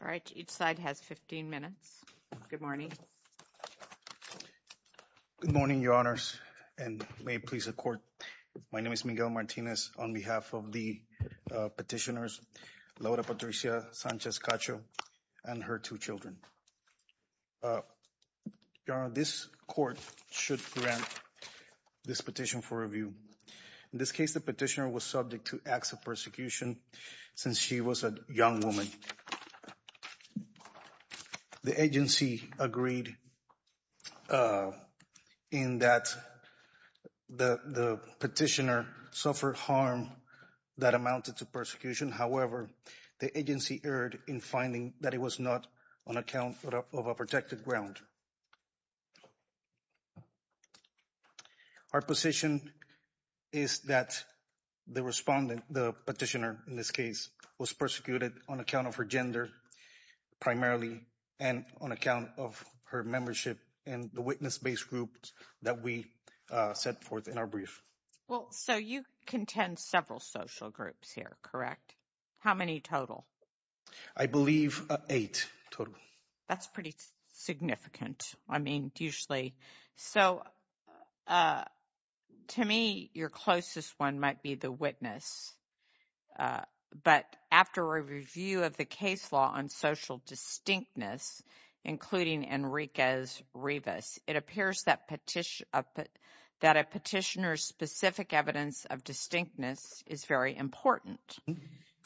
All right, each side has 15 minutes. Good morning. Good morning, your honors, and may it please the court. My name is Miguel Martinez on behalf of the petitioners Laura Patricia Sanchez Cacho and her two children. This court should grant this petition for review. In this case, the petitioner was subject to acts persecution since she was a young woman. The agency agreed in that the petitioner suffered harm that amounted to persecution. However, the agency erred in finding that it was not on account of a protected ground. Our position is that the respondent, the petitioner in this case, was persecuted on account of her gender primarily and on account of her membership in the witness-based groups that we set forth in our brief. Well, so you contend several social groups here, correct? How many total? I believe eight total. That's pretty significant. I mean, usually. So to me, your closest one might be the witness. But after a review of the case law on social distinctness, including Enriquez-Rivas, it appears that a petitioner's specific evidence of distinctness is very important.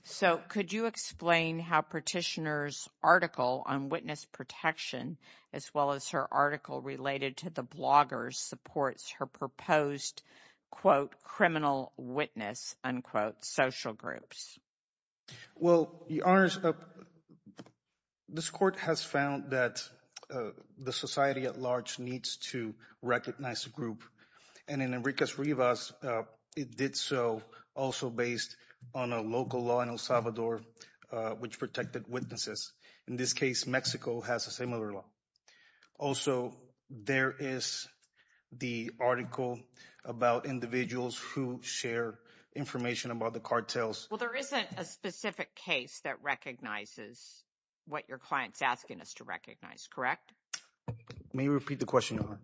So could you explain how petitioner's article on witness protection, as well as her article related to the bloggers, supports her proposed, quote, criminal witness, unquote, social groups? Well, Your Honors, this court has found that the society at large needs to recognize the group. And in Enriquez-Rivas, it did so also based on a local law in El Salvador, which protected witnesses. In this case, Mexico has a similar law. Also, there is the article about individuals who share information about the cartels. Well, there isn't a specific case that recognizes what your client's asking us to recognize, correct? May you repeat the question, Your Honor?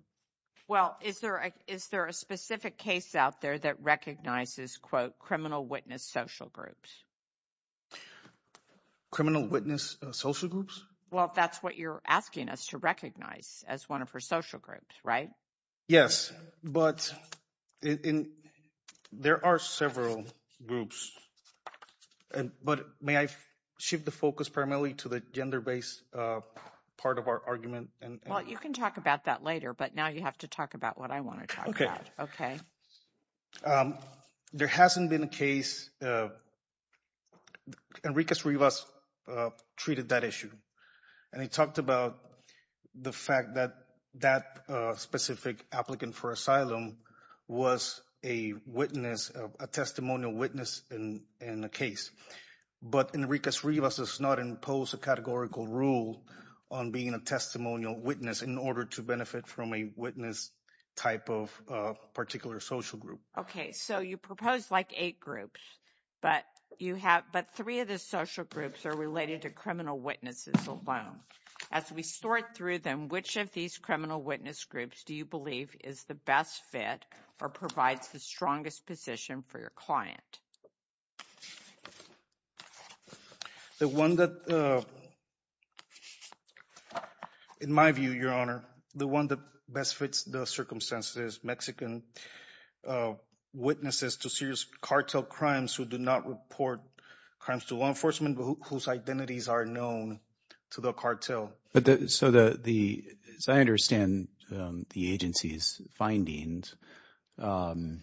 Well, is there a specific case out there that recognizes, quote, criminal witness social groups? Criminal witness social groups? Well, that's what you're asking us to recognize as one of her social groups, right? Yes, but there are several groups. And, but may I shift the focus primarily to the gender-based part of our argument? Well, you can talk about that later, but now you have to talk about what I want to talk about. Okay. There hasn't been a case, Enriquez-Rivas treated that issue. And he talked about the fact that that specific applicant for asylum was a witness, a testimonial witness in the case. But Enriquez-Rivas does not impose a categorical rule on being a testimonial witness in order to benefit from a witness type of particular social group. Okay. So you propose like eight groups, but you have, but three of the social groups are related to criminal witnesses alone. As we sort through them, which of these criminal witness groups do you believe is the best fit or provides the strongest position for your client? The one that, in my view, Your Honor, the one that best fits the circumstances, Mexican witnesses to serious cartel crimes who do not report crimes to law enforcement, whose identities are known to the cartel. But so the, as I understand the agency's findings, the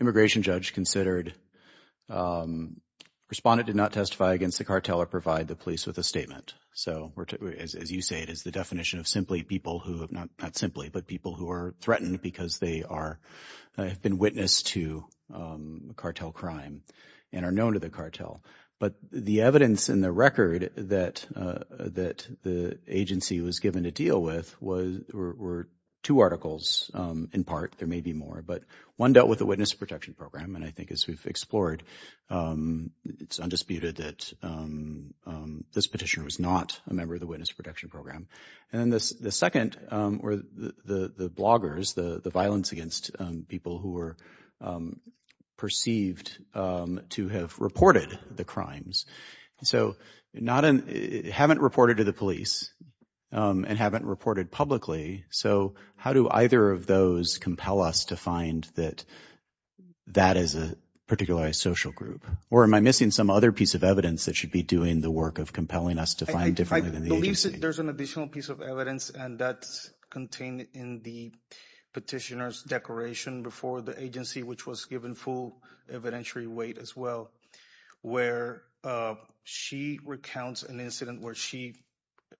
immigration judge considered respondent did not testify against the cartel or provide the police with a statement. So as you say, it is the definition of simply people who have not, not simply, but people who are threatened because they are, have been witness to cartel crime and are known to the cartel. But the evidence in the record that the agency was given to deal with was, were two articles in part. There may be more, but one dealt with the witness protection program. And I think as we've explored, it's undisputed that this petitioner was not a member of the witness protection program. And then the second, or the bloggers, the violence against people who were perceived to have reported the crimes. So not in, haven't reported to the police and haven't reported publicly. So how do either of those compel us to find that that is a particular social group, or am I missing some other piece of evidence that be doing the work of compelling us to find differently than the agency? There's an additional piece of evidence and that's contained in the petitioner's declaration before the agency, which was given full evidentiary weight as well, where she recounts an incident where she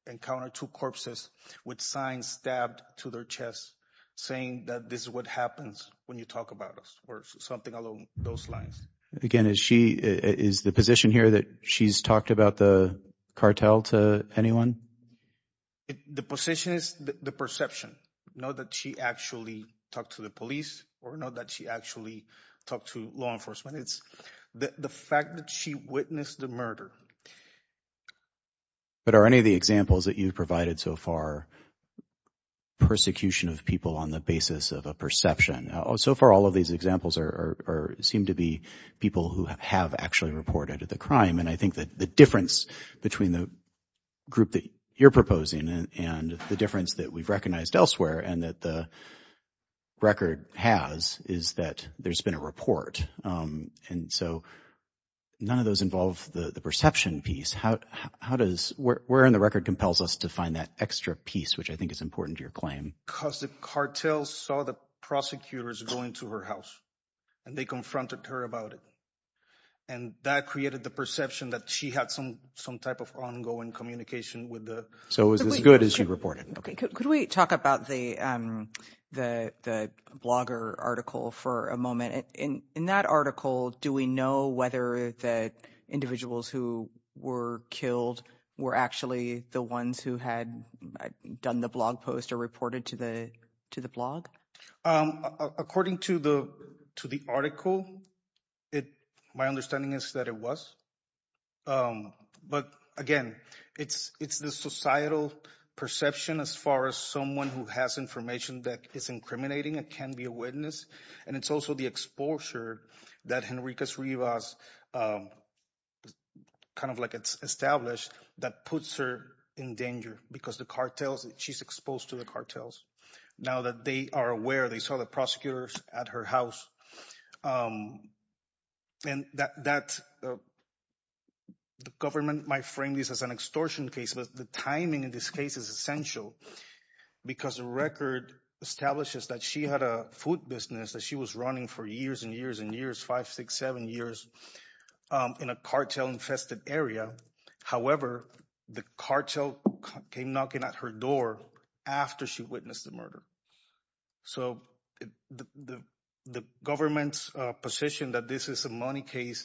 encountered two corpses with signs stabbed to their chest saying that this is what happens when you talk about us or something along those lines. Again, is she, is the position here that she's talked about the cartel to anyone? The position is the perception, not that she actually talked to the police or not that she actually talked to law enforcement. It's the fact that she witnessed the murder. But are any of the examples that you've provided so far, persecution of people on the basis of a perception? So far, all of these examples are, seem to be people who have actually reported the crime. And I think that the difference between the group that you're proposing and the difference that we've recognized elsewhere, and that the record has, is that there's been a report. And so none of those involve the perception piece. How does, where in the record compels us to find that extra piece, which I think is important to your claim? Because the cartel saw the prosecutors going to her house and they confronted her about it. And that created the perception that she had some type of ongoing communication with the... So it was as good as she reported. Okay. Could we talk about the blogger article for a moment? In that article, do we know whether the individuals who were killed were actually the ones who had done the blog post or reported to the blog? According to the article, my understanding is that it was. But again, it's the societal perception as far as someone who has information that is incriminating and can be a witness. And it's also the exposure that Henriquez Rivas, kind of like it's established, that puts her in danger because the cartels, she's exposed to the cartels. Now that they are aware, they saw the prosecutors at her house. And that the government might frame this as an extortion case, but the timing in this case is essential because the record establishes that she had a food business that she was running for years and years and years, five, six, seven years in a cartel infested area. However, the cartel came knocking at her door after she witnessed the murder. So the government's position that this is a money case,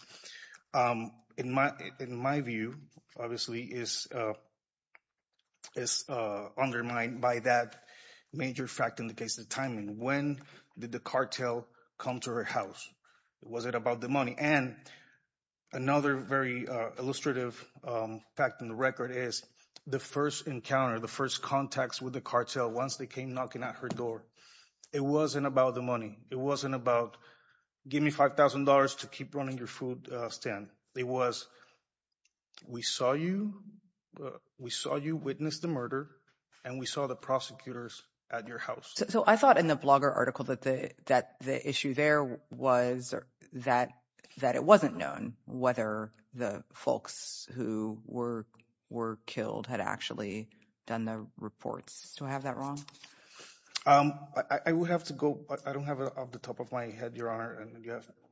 in my view, obviously is undermined by that major fact in the case of timing. When did the cartel come to her house? Was it about the money? And another very illustrative fact in the record is the first encounter, the first contacts with the cartel, once they came knocking at her door, it wasn't about the money. It wasn't about, give me $5,000 to keep running your food stand. It was, we saw you witness the murder and we saw the prosecutors at your house. So I thought in the blogger article that the issue there was that it wasn't known whether the folks who were killed had actually done the reports. Do I have that wrong? I will have to go, but I don't have it off the top of my head, Your Honor. And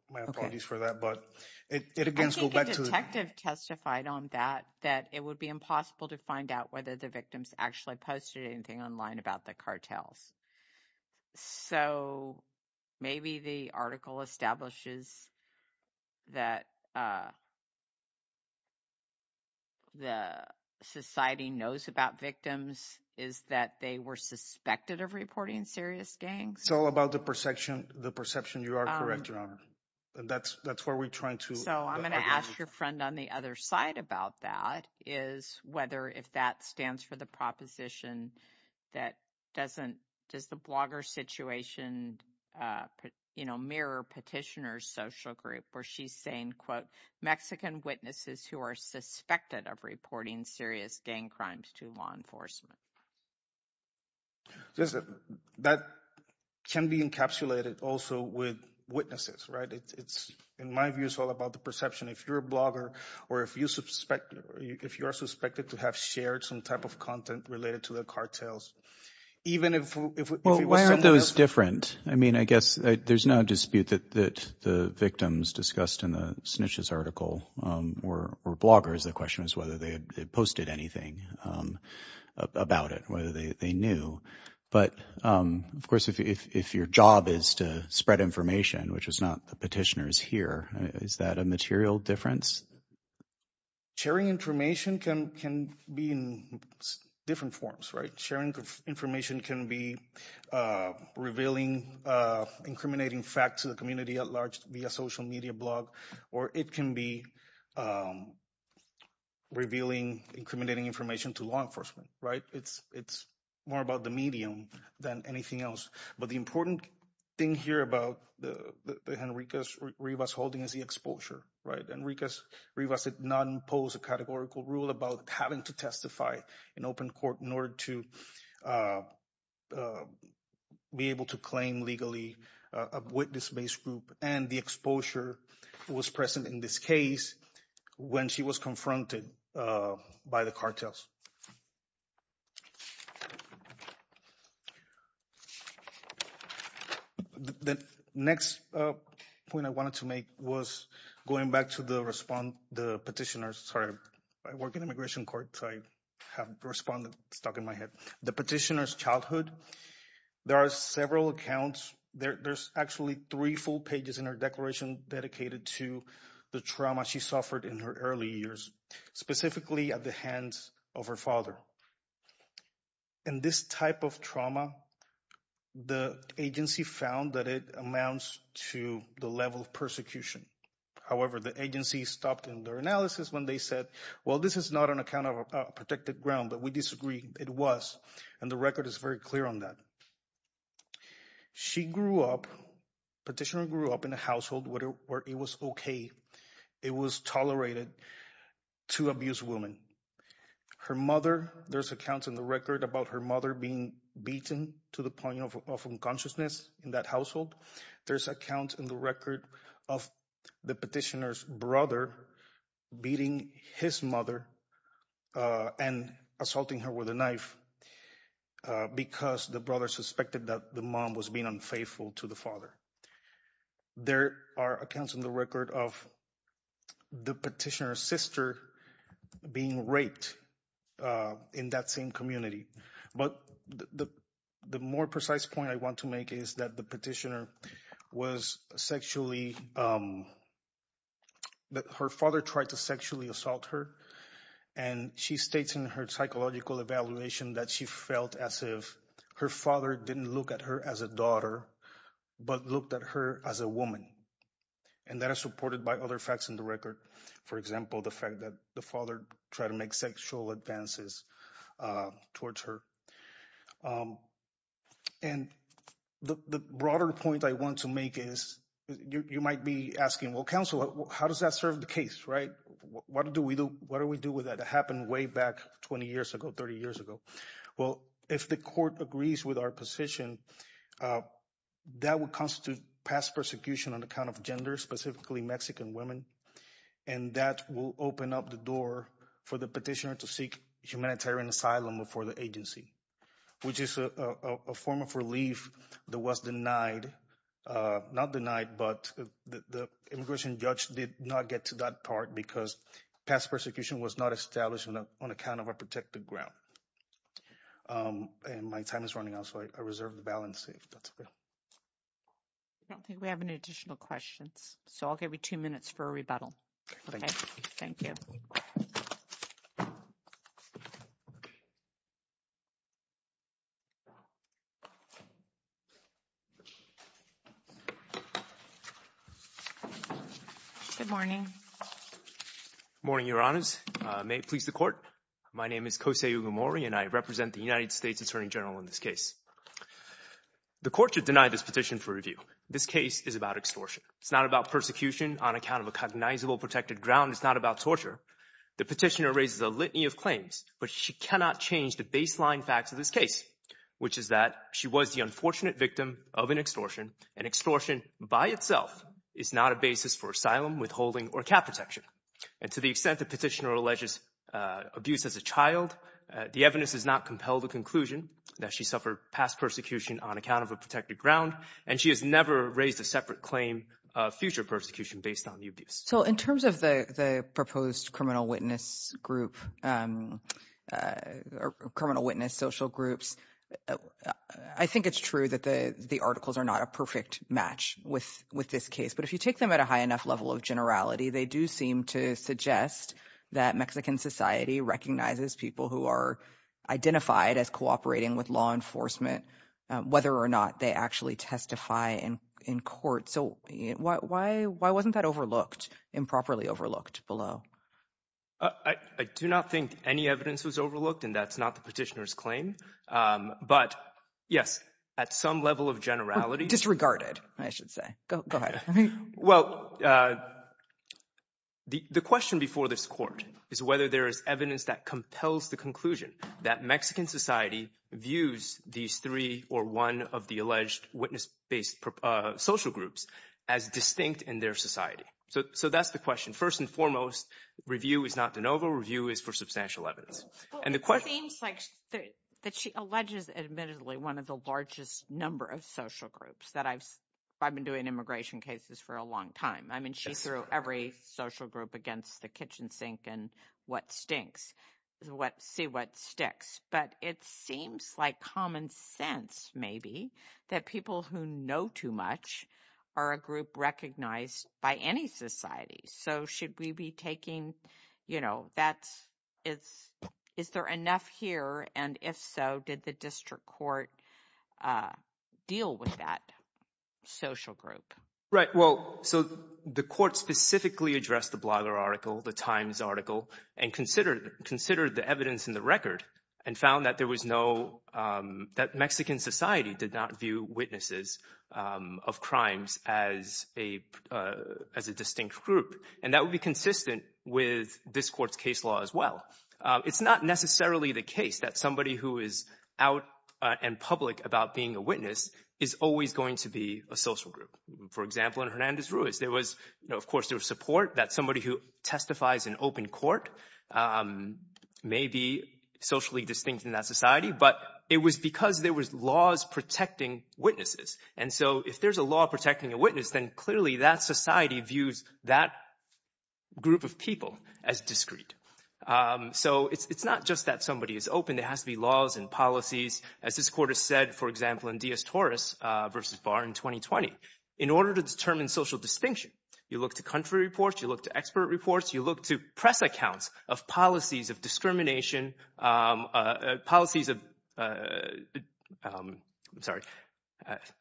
my apologies for that, but it again- I think a detective testified on that, that it would be impossible to find out whether the victims actually posted anything online about the cartels. So maybe the article establishes that the society knows about victims is that they were suspected of reporting serious gangs. It's all about the perception. The perception, you are correct, Your Honor. That's where we're trying to- So I'm going to ask your friend on the other side about that, is whether if that stands for the proposition that doesn't, does the blogger situation mirror petitioner's social group where she's saying, quote, Mexican witnesses who are suspected of reporting serious gang crimes to law enforcement. That can be encapsulated also with witnesses, right? It's, in my view, it's all about the perception. If you're a blogger or if you are suspected to have shared some type of content related to the cartels, even if- Well, why aren't those different? I mean, I guess there's no dispute that the victims discussed in the snitches article were bloggers. The question is whether they had posted anything about it, whether they knew. But of course, if your job is to spread information, which is not the petitioner's here, is that a material difference? Sharing information can be in different forms, right? Sharing information can be revealing, incriminating facts to the community at large via social media blog, or it can be revealing, incriminating information to law enforcement, right? It's more about the medium than anything else. But the important thing here about the Enriquez-Rivas holding is the exposure, right? Enriquez-Rivas did not impose a categorical rule about having to testify in open court in order to be able to claim legally a witness-based group. And the exposure was present in this case when she was confronted by the cartels. The next point I wanted to make was going back to the petitioner's- Sorry, I work in immigration court, so I have the respondent stuck in my head. The petitioner's childhood. There are several accounts. There's actually three full pages in her declaration dedicated to the trauma she suffered in her early years, specifically at the hands of her father. In this type of trauma, the agency found that it amounts to the level of persecution. However, the agency stopped in their analysis when they said, well, this is not on account of a protected ground, but we disagree. It was, and the record is very clear on that. She grew up, the petitioner grew up in a household where it was okay. It was tolerated to abuse women. Her mother, there's accounts in the record about her mother being beaten to the point of unconsciousness in that household. There's accounts in the record of the petitioner's brother beating his mother and assaulting her with a knife because the brother suspected that the mom was being unfaithful to the father. There are accounts in the record of the petitioner's sister being raped in that same community. But the more precise point I want to make is that the petitioner was sexually, that her father tried to sexually assault her, and she states in her psychological evaluation that she felt as if her father didn't look at her as a daughter, but looked at her as a woman. And that is supported by other facts in the record. For example, the fact that the father tried to make sexual advances towards her. And the broader point I want to make is, you might be asking, well, counsel, how does that serve the case, right? What do we do? What do we do? Well, if the court agrees with our position, that would constitute past persecution on account of gender, specifically Mexican women. And that will open up the door for the petitioner to seek humanitarian asylum for the agency, which is a form of relief that was denied. Not denied, but the immigration judge did not get to that part because past persecution was not established on account of a protected ground. And my time is running out, so I reserve the balance. I don't think we have any additional questions, so I'll give you two minutes for a rebuttal. Thank you. Good morning. Morning, Your Honors. May it please the court. My name is Kosei Ugamori, and I represent the United States Attorney General in this case. The court should deny this petition for review. This case is about extortion. It's not about persecution on account of a cognizable protected ground. It's not about torture. The petitioner raises a litany of claims, but she cannot change the baseline facts of this case, which is that she was the unfortunate victim of an extortion, and extortion by itself is not a basis for asylum, withholding, or cap protection. And to the extent the petitioner alleges abuse as a child, the evidence does not compel the conclusion that she suffered past persecution on account of a protected ground, and she has never raised a separate claim of future persecution based on the abuse. So in terms of the proposed criminal witness group, or criminal witness social groups, I think it's true that the articles are not a perfect match with this case, but if you take them at a high enough level of generality, they do seem to suggest that Mexican society recognizes people who are identified as cooperating with law enforcement, whether or not they actually testify in court. So why wasn't that overlooked, improperly overlooked below? I do not think any evidence was overlooked, and that's not the petitioner's claim. But yes, at some level of generality— Disregarded, I should say. Go ahead. Well, the question before this court is whether there is evidence that compels the conclusion that Mexican society views these three or one of the alleged witness-based social groups as distinct in their society. So that's the question. First and foremost, review is not de novo. Review is for substantial evidence. It seems like that she alleges, admittedly, one of the largest number of social groups that I've been doing immigration cases for a long time. I mean, she's through every social group against the kitchen sink and what stinks, see what sticks. But it seems like common sense, maybe, that people who know too much are a group recognized by any society. So should we be taking, is there enough here? And if so, did the district court deal with that social group? Right. Well, so the court specifically addressed the Blogger article, the Times article, and considered the evidence in the record and found that there was no, that Mexican society did not view witnesses of crimes as a distinct group. And that would be consistent with this court's case law as well. It's not necessarily the case that somebody who is out and public about being a witness is always going to be a social group. For example, in Hernandez-Ruiz, there was, of course, there was support that somebody who testifies in open court may be socially distinct in that society, but it was because there was laws protecting witnesses. And so if there's a law protecting a witness, then clearly that society views that group of people as discrete. So it's not just that somebody is open, there has to be laws and policies, as this court has said, for example, in Diaz-Torres versus Barr in 2020. In order to determine social distinction, you look to country reports, you look to expert reports, you look to press accounts of policies of discrimination, policies of, I'm sorry,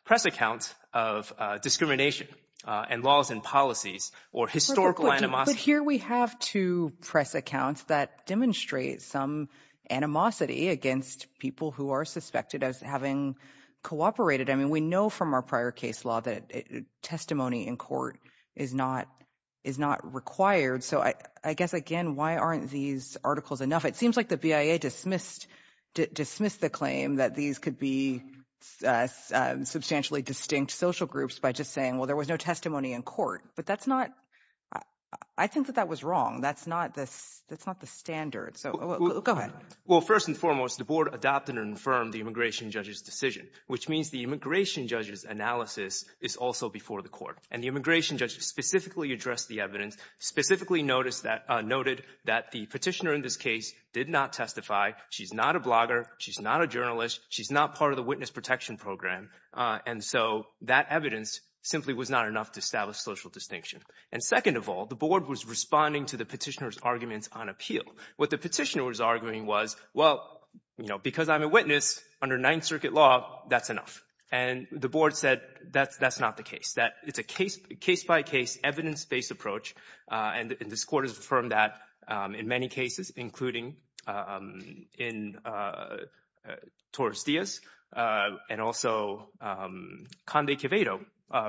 press accounts of discrimination and laws and policies or historical animosity. But here we have two press accounts that demonstrate some animosity against people who are suspected as having cooperated. I mean, we know from our prior case law that testimony in court is not required. So I guess, again, why aren't these articles enough? It seems like the BIA dismissed the claim that these could be substantially distinct social groups by just saying, well, there was no testimony in court. But that's not, I think that that was wrong. That's not the standard. So go ahead. Well, first and foremost, the board adopted and affirmed the immigration judge's decision, which means the immigration judge's analysis is also before the court. And the immigration judge specifically addressed the evidence, specifically noted that the petitioner in this case did not testify. She's not a blogger. She's not a journalist. She's not part of the witness protection program. And so that evidence simply was not enough to establish social distinction. And second of all, the board was responding to the petitioner's arguments on appeal. What the petitioner was arguing was, well, because I'm a witness under Ninth Circuit law, that's enough. And the board said that's not the case, that it's a case-by-case, evidence-based approach. And this court has affirmed that in many cases, including in Torres Diaz and also Conde Quevedo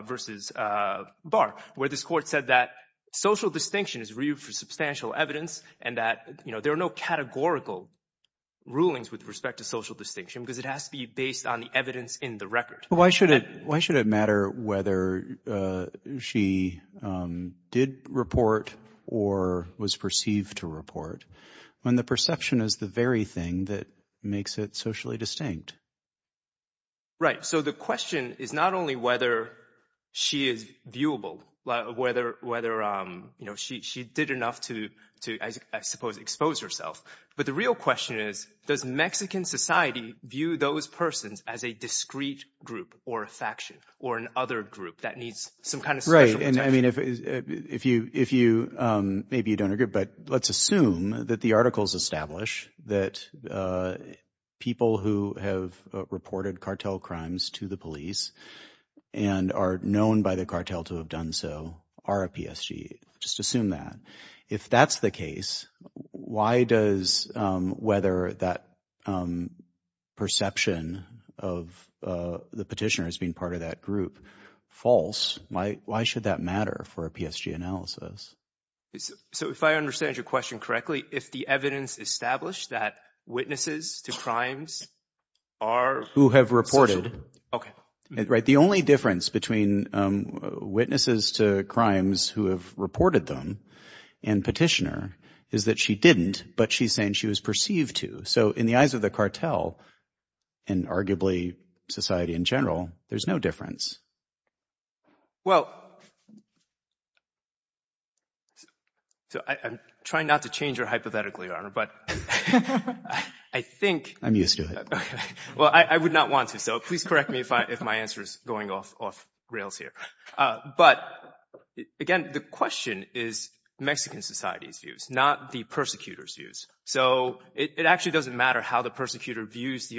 versus Barr, where this court said that social distinction is real for substantial evidence and that, you know, there are no categorical rulings with respect to social distinction because it has to be based on the evidence in the record. But why should it matter whether she did report or was perceived to report when the perception is the very thing that makes it socially distinct? Right. So the question is not only whether she is viewable, whether, you know, she did enough to, I suppose, expose herself. But the real question is, does Mexican society view those persons as a discrete group or a faction or an other group that needs some kind of special protection? I mean, if you maybe you don't agree, but let's assume that the articles establish that people who have reported cartel crimes to the police and are known by the cartel to have done so are a PSG. Just assume that. If that's the case, why does whether that perception of the petitioner as being part of that group false? Why should that matter for a PSG analysis? So if I understand your question correctly, if the evidence established that witnesses to crimes are. Who have reported. OK. Right. The only difference between witnesses to crimes who have reported them and petitioner is that she didn't. But she's saying she was perceived to. So in the eyes of the cartel and arguably society in general, there's no difference. Well. So I'm trying not to change your hypothetically, but I think I'm used to it. Well, I would not want to. So please correct me if my answer is going off rails here. But again, the question is Mexican society's views, not the persecutors views. So it actually doesn't matter how the persecutor views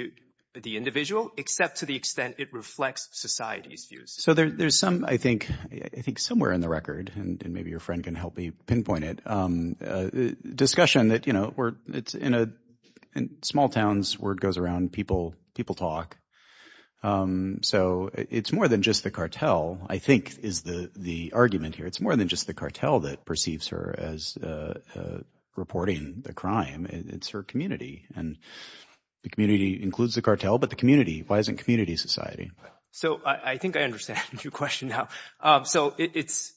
the individual, except to the extent it reflects society's views. So there's some, I think, I think somewhere in the record and maybe your friend can help me pinpoint it discussion that, you know, it's in a small towns where it goes around people, people talk. So it's more than just the cartel, I think, is the argument here. It's more than just the cartel that perceives her as reporting the crime. It's her community and the community includes the cartel, but the community, why isn't community society? So I think I understand your question now. So it's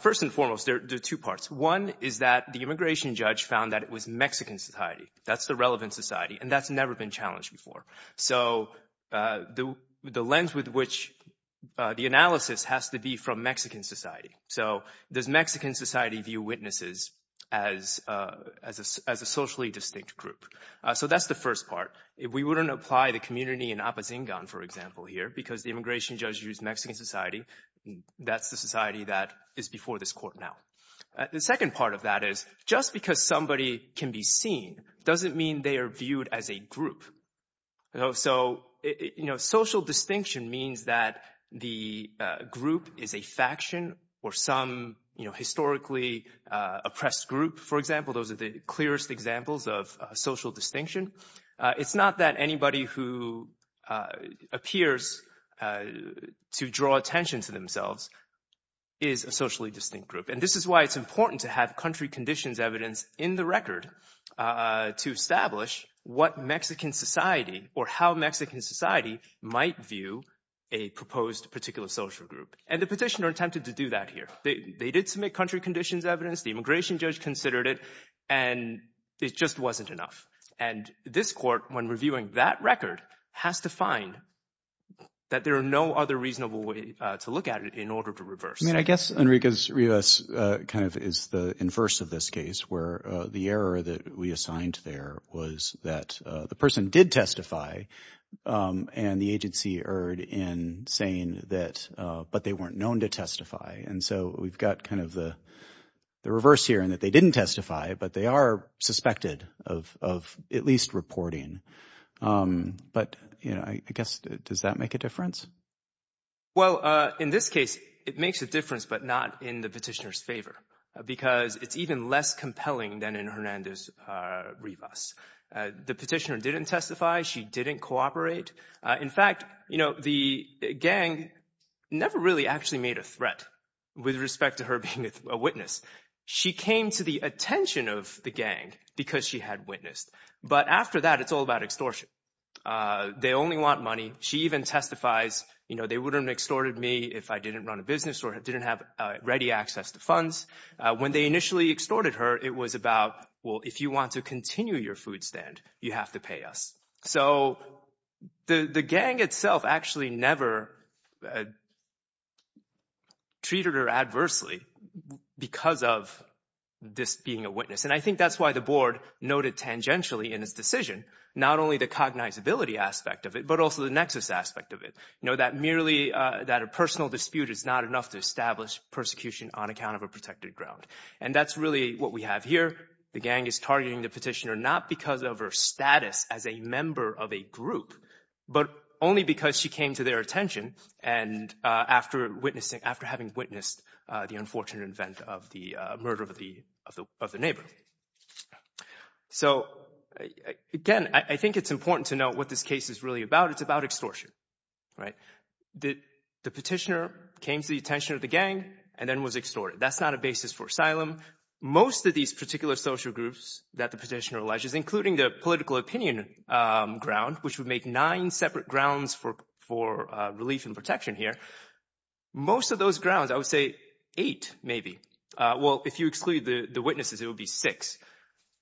first and foremost, there are two parts. One is that the immigration judge found that it was Mexican society. That's the relevant society. And that's never been challenged before. So the lens with which the analysis has to be from Mexican society. So does Mexican society view witnesses as a socially distinct group? So that's the first part. If we wouldn't apply the community in Apatzingan, for example, here, because the immigration judge used Mexican society, that's the society that is before this court now. The second part of that is just because somebody can be seen doesn't mean they are viewed as a group. So social distinction means that the group is a faction or some historically oppressed group, for example. Those are the clearest examples of social distinction. It's not that anybody who appears to draw attention to themselves is a socially distinct group. And this is why it's to have country conditions evidence in the record to establish what Mexican society or how Mexican society might view a proposed particular social group. And the petitioner attempted to do that here. They did submit country conditions evidence. The immigration judge considered it and it just wasn't enough. And this court, when reviewing that record, has to find that there are no other reasonable way to look at it in order to reverse. And I guess, Enrique, this kind of is the inverse of this case where the error that we assigned there was that the person did testify and the agency erred in saying that, but they weren't known to testify. And so we've got kind of the reverse here and that they didn't testify, but they are suspected of at least reporting. But, you know, I guess, does that make a difference? Well, in this case, it makes a difference, but not in the petitioner's favor, because it's even less compelling than in Hernandez-Rivas. The petitioner didn't testify. She didn't cooperate. In fact, you know, the gang never really actually made a threat with respect to her being a witness. She came to the attention of the gang because she had witnessed. But after that, it's all about extortion. They only want money. She even testifies, you know, they wouldn't extorted me if I didn't run a business or didn't have ready access to funds. When they initially extorted her, it was about, well, if you want to continue your food stand, you have to pay us. So the gang itself actually never treated her adversely because of this being a witness. And I think that's why the board noted tangentially in its decision, not only the cognizability aspect of it, but also the nexus aspect of it, you know, that merely that a personal dispute is not enough to establish persecution on account of a protected ground. And that's really what we have here. The gang is targeting the petitioner not because of her status as a member of a group, but only because she came to their attention and after witnessing, after having witnessed the unfortunate event of the murder of the neighbor. So again, I think it's important to know what this case is really about. It's about extortion, right? The petitioner came to the attention of the gang and then was extorted. That's not a basis for asylum. Most of these particular social groups that the petitioner alleges, including the political opinion ground, which would make nine separate grounds for relief and protection here, most of those grounds, I would say eight maybe. Well, if you exclude the witnesses, it would be six.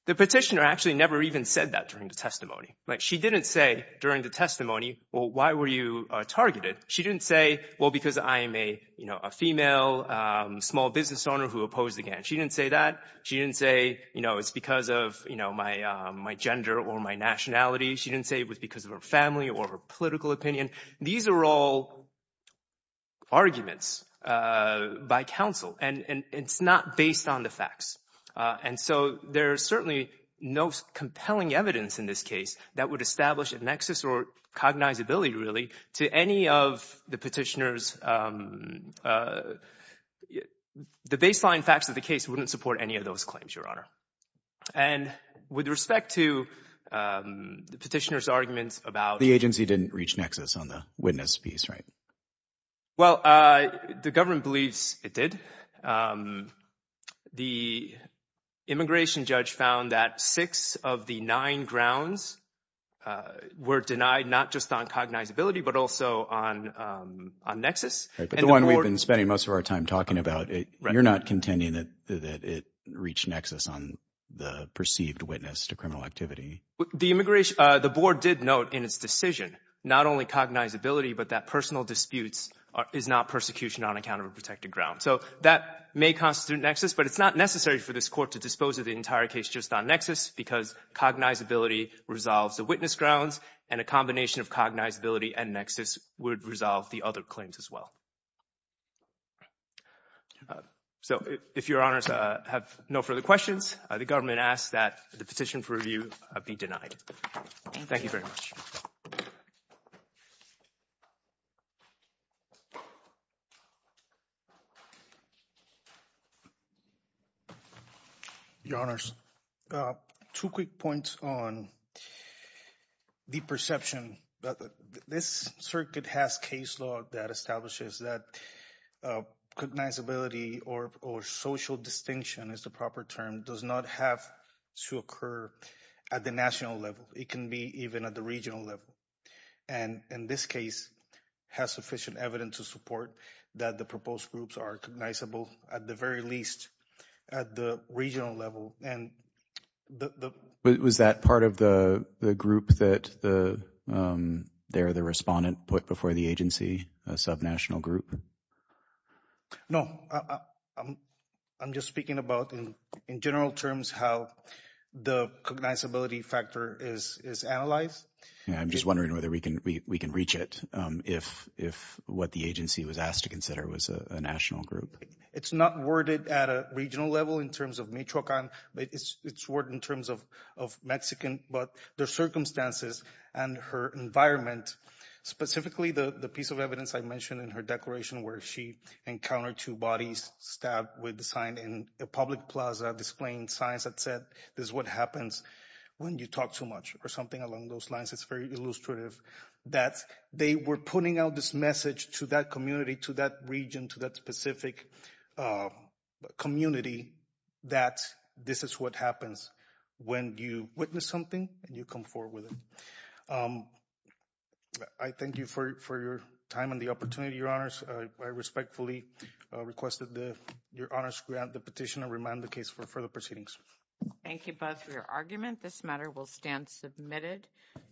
The petitioner actually never even said that during the testimony, right? She didn't say during the testimony, well, why were you targeted? She didn't say, well, because I am a, you know, a female small business owner who opposed the gang. She didn't say that. She didn't say, you know, it's because of, you know, my gender or my nationality. She didn't say it was because of her family or her political opinion. These are all arguments by counsel and it's not based on the facts. And so there's certainly no compelling evidence in this case that would establish a nexus or cognizability really to any of the petitioners. The baseline facts of the case wouldn't support any of those claims, Your Honor. And with respect to the petitioner's arguments about... The agency didn't reach nexus on the witness piece, right? Well, the government believes it did. The immigration judge found that six of the nine grounds were denied, not just on cognizability, but also on nexus. Right, but the one we've been spending most of our time talking about, you're not contending that it reached nexus on the perceived witness to criminal activity. The immigration, the board did note in its decision, not only cognizability, but that personal disputes is not persecution on account of a protected ground. So that may constitute nexus, but it's not necessary for this court to dispose of the entire case just on nexus because cognizability resolves the witness grounds and a combination of cognizability and nexus would resolve the other claims as well. So, if Your Honors have no further questions, the government asks that the petition for review be denied. Thank you very much. Your Honors, two quick points on the perception that this circuit has case law that establishes that cognizability or social distinction is the proper term, does not have to occur at the national level. It can be even at the regional level. And in this case, has sufficient evidence to support that the proposed groups are cognizable at the very least at the regional level. And the- Was that part of the group that the, there, the respondent put before the agency, a subnational group? No, I'm just speaking about in general terms how the cognizability factor is analyzed. And I'm just wondering whether we can reach it if what the agency was asked to consider was a national group. It's not worded at a regional level in terms of Michoacan, but it's worded in terms of Mexican, but the circumstances and her environment, specifically the piece of evidence I mentioned in her declaration where she encountered two bodies stabbed with a sign in a public plaza displaying signs that said, this is what happens when you talk too much or something along those lines. It's very illustrative that they were putting out this message to that community, to that region, to that specific community that this is what happens when you witness something and you come forward with it. I thank you for your time and the opportunity, your honors. I respectfully requested that your honors grant the petition and remind the case for further proceedings. Thank you both for your argument. This matter will stand submitted.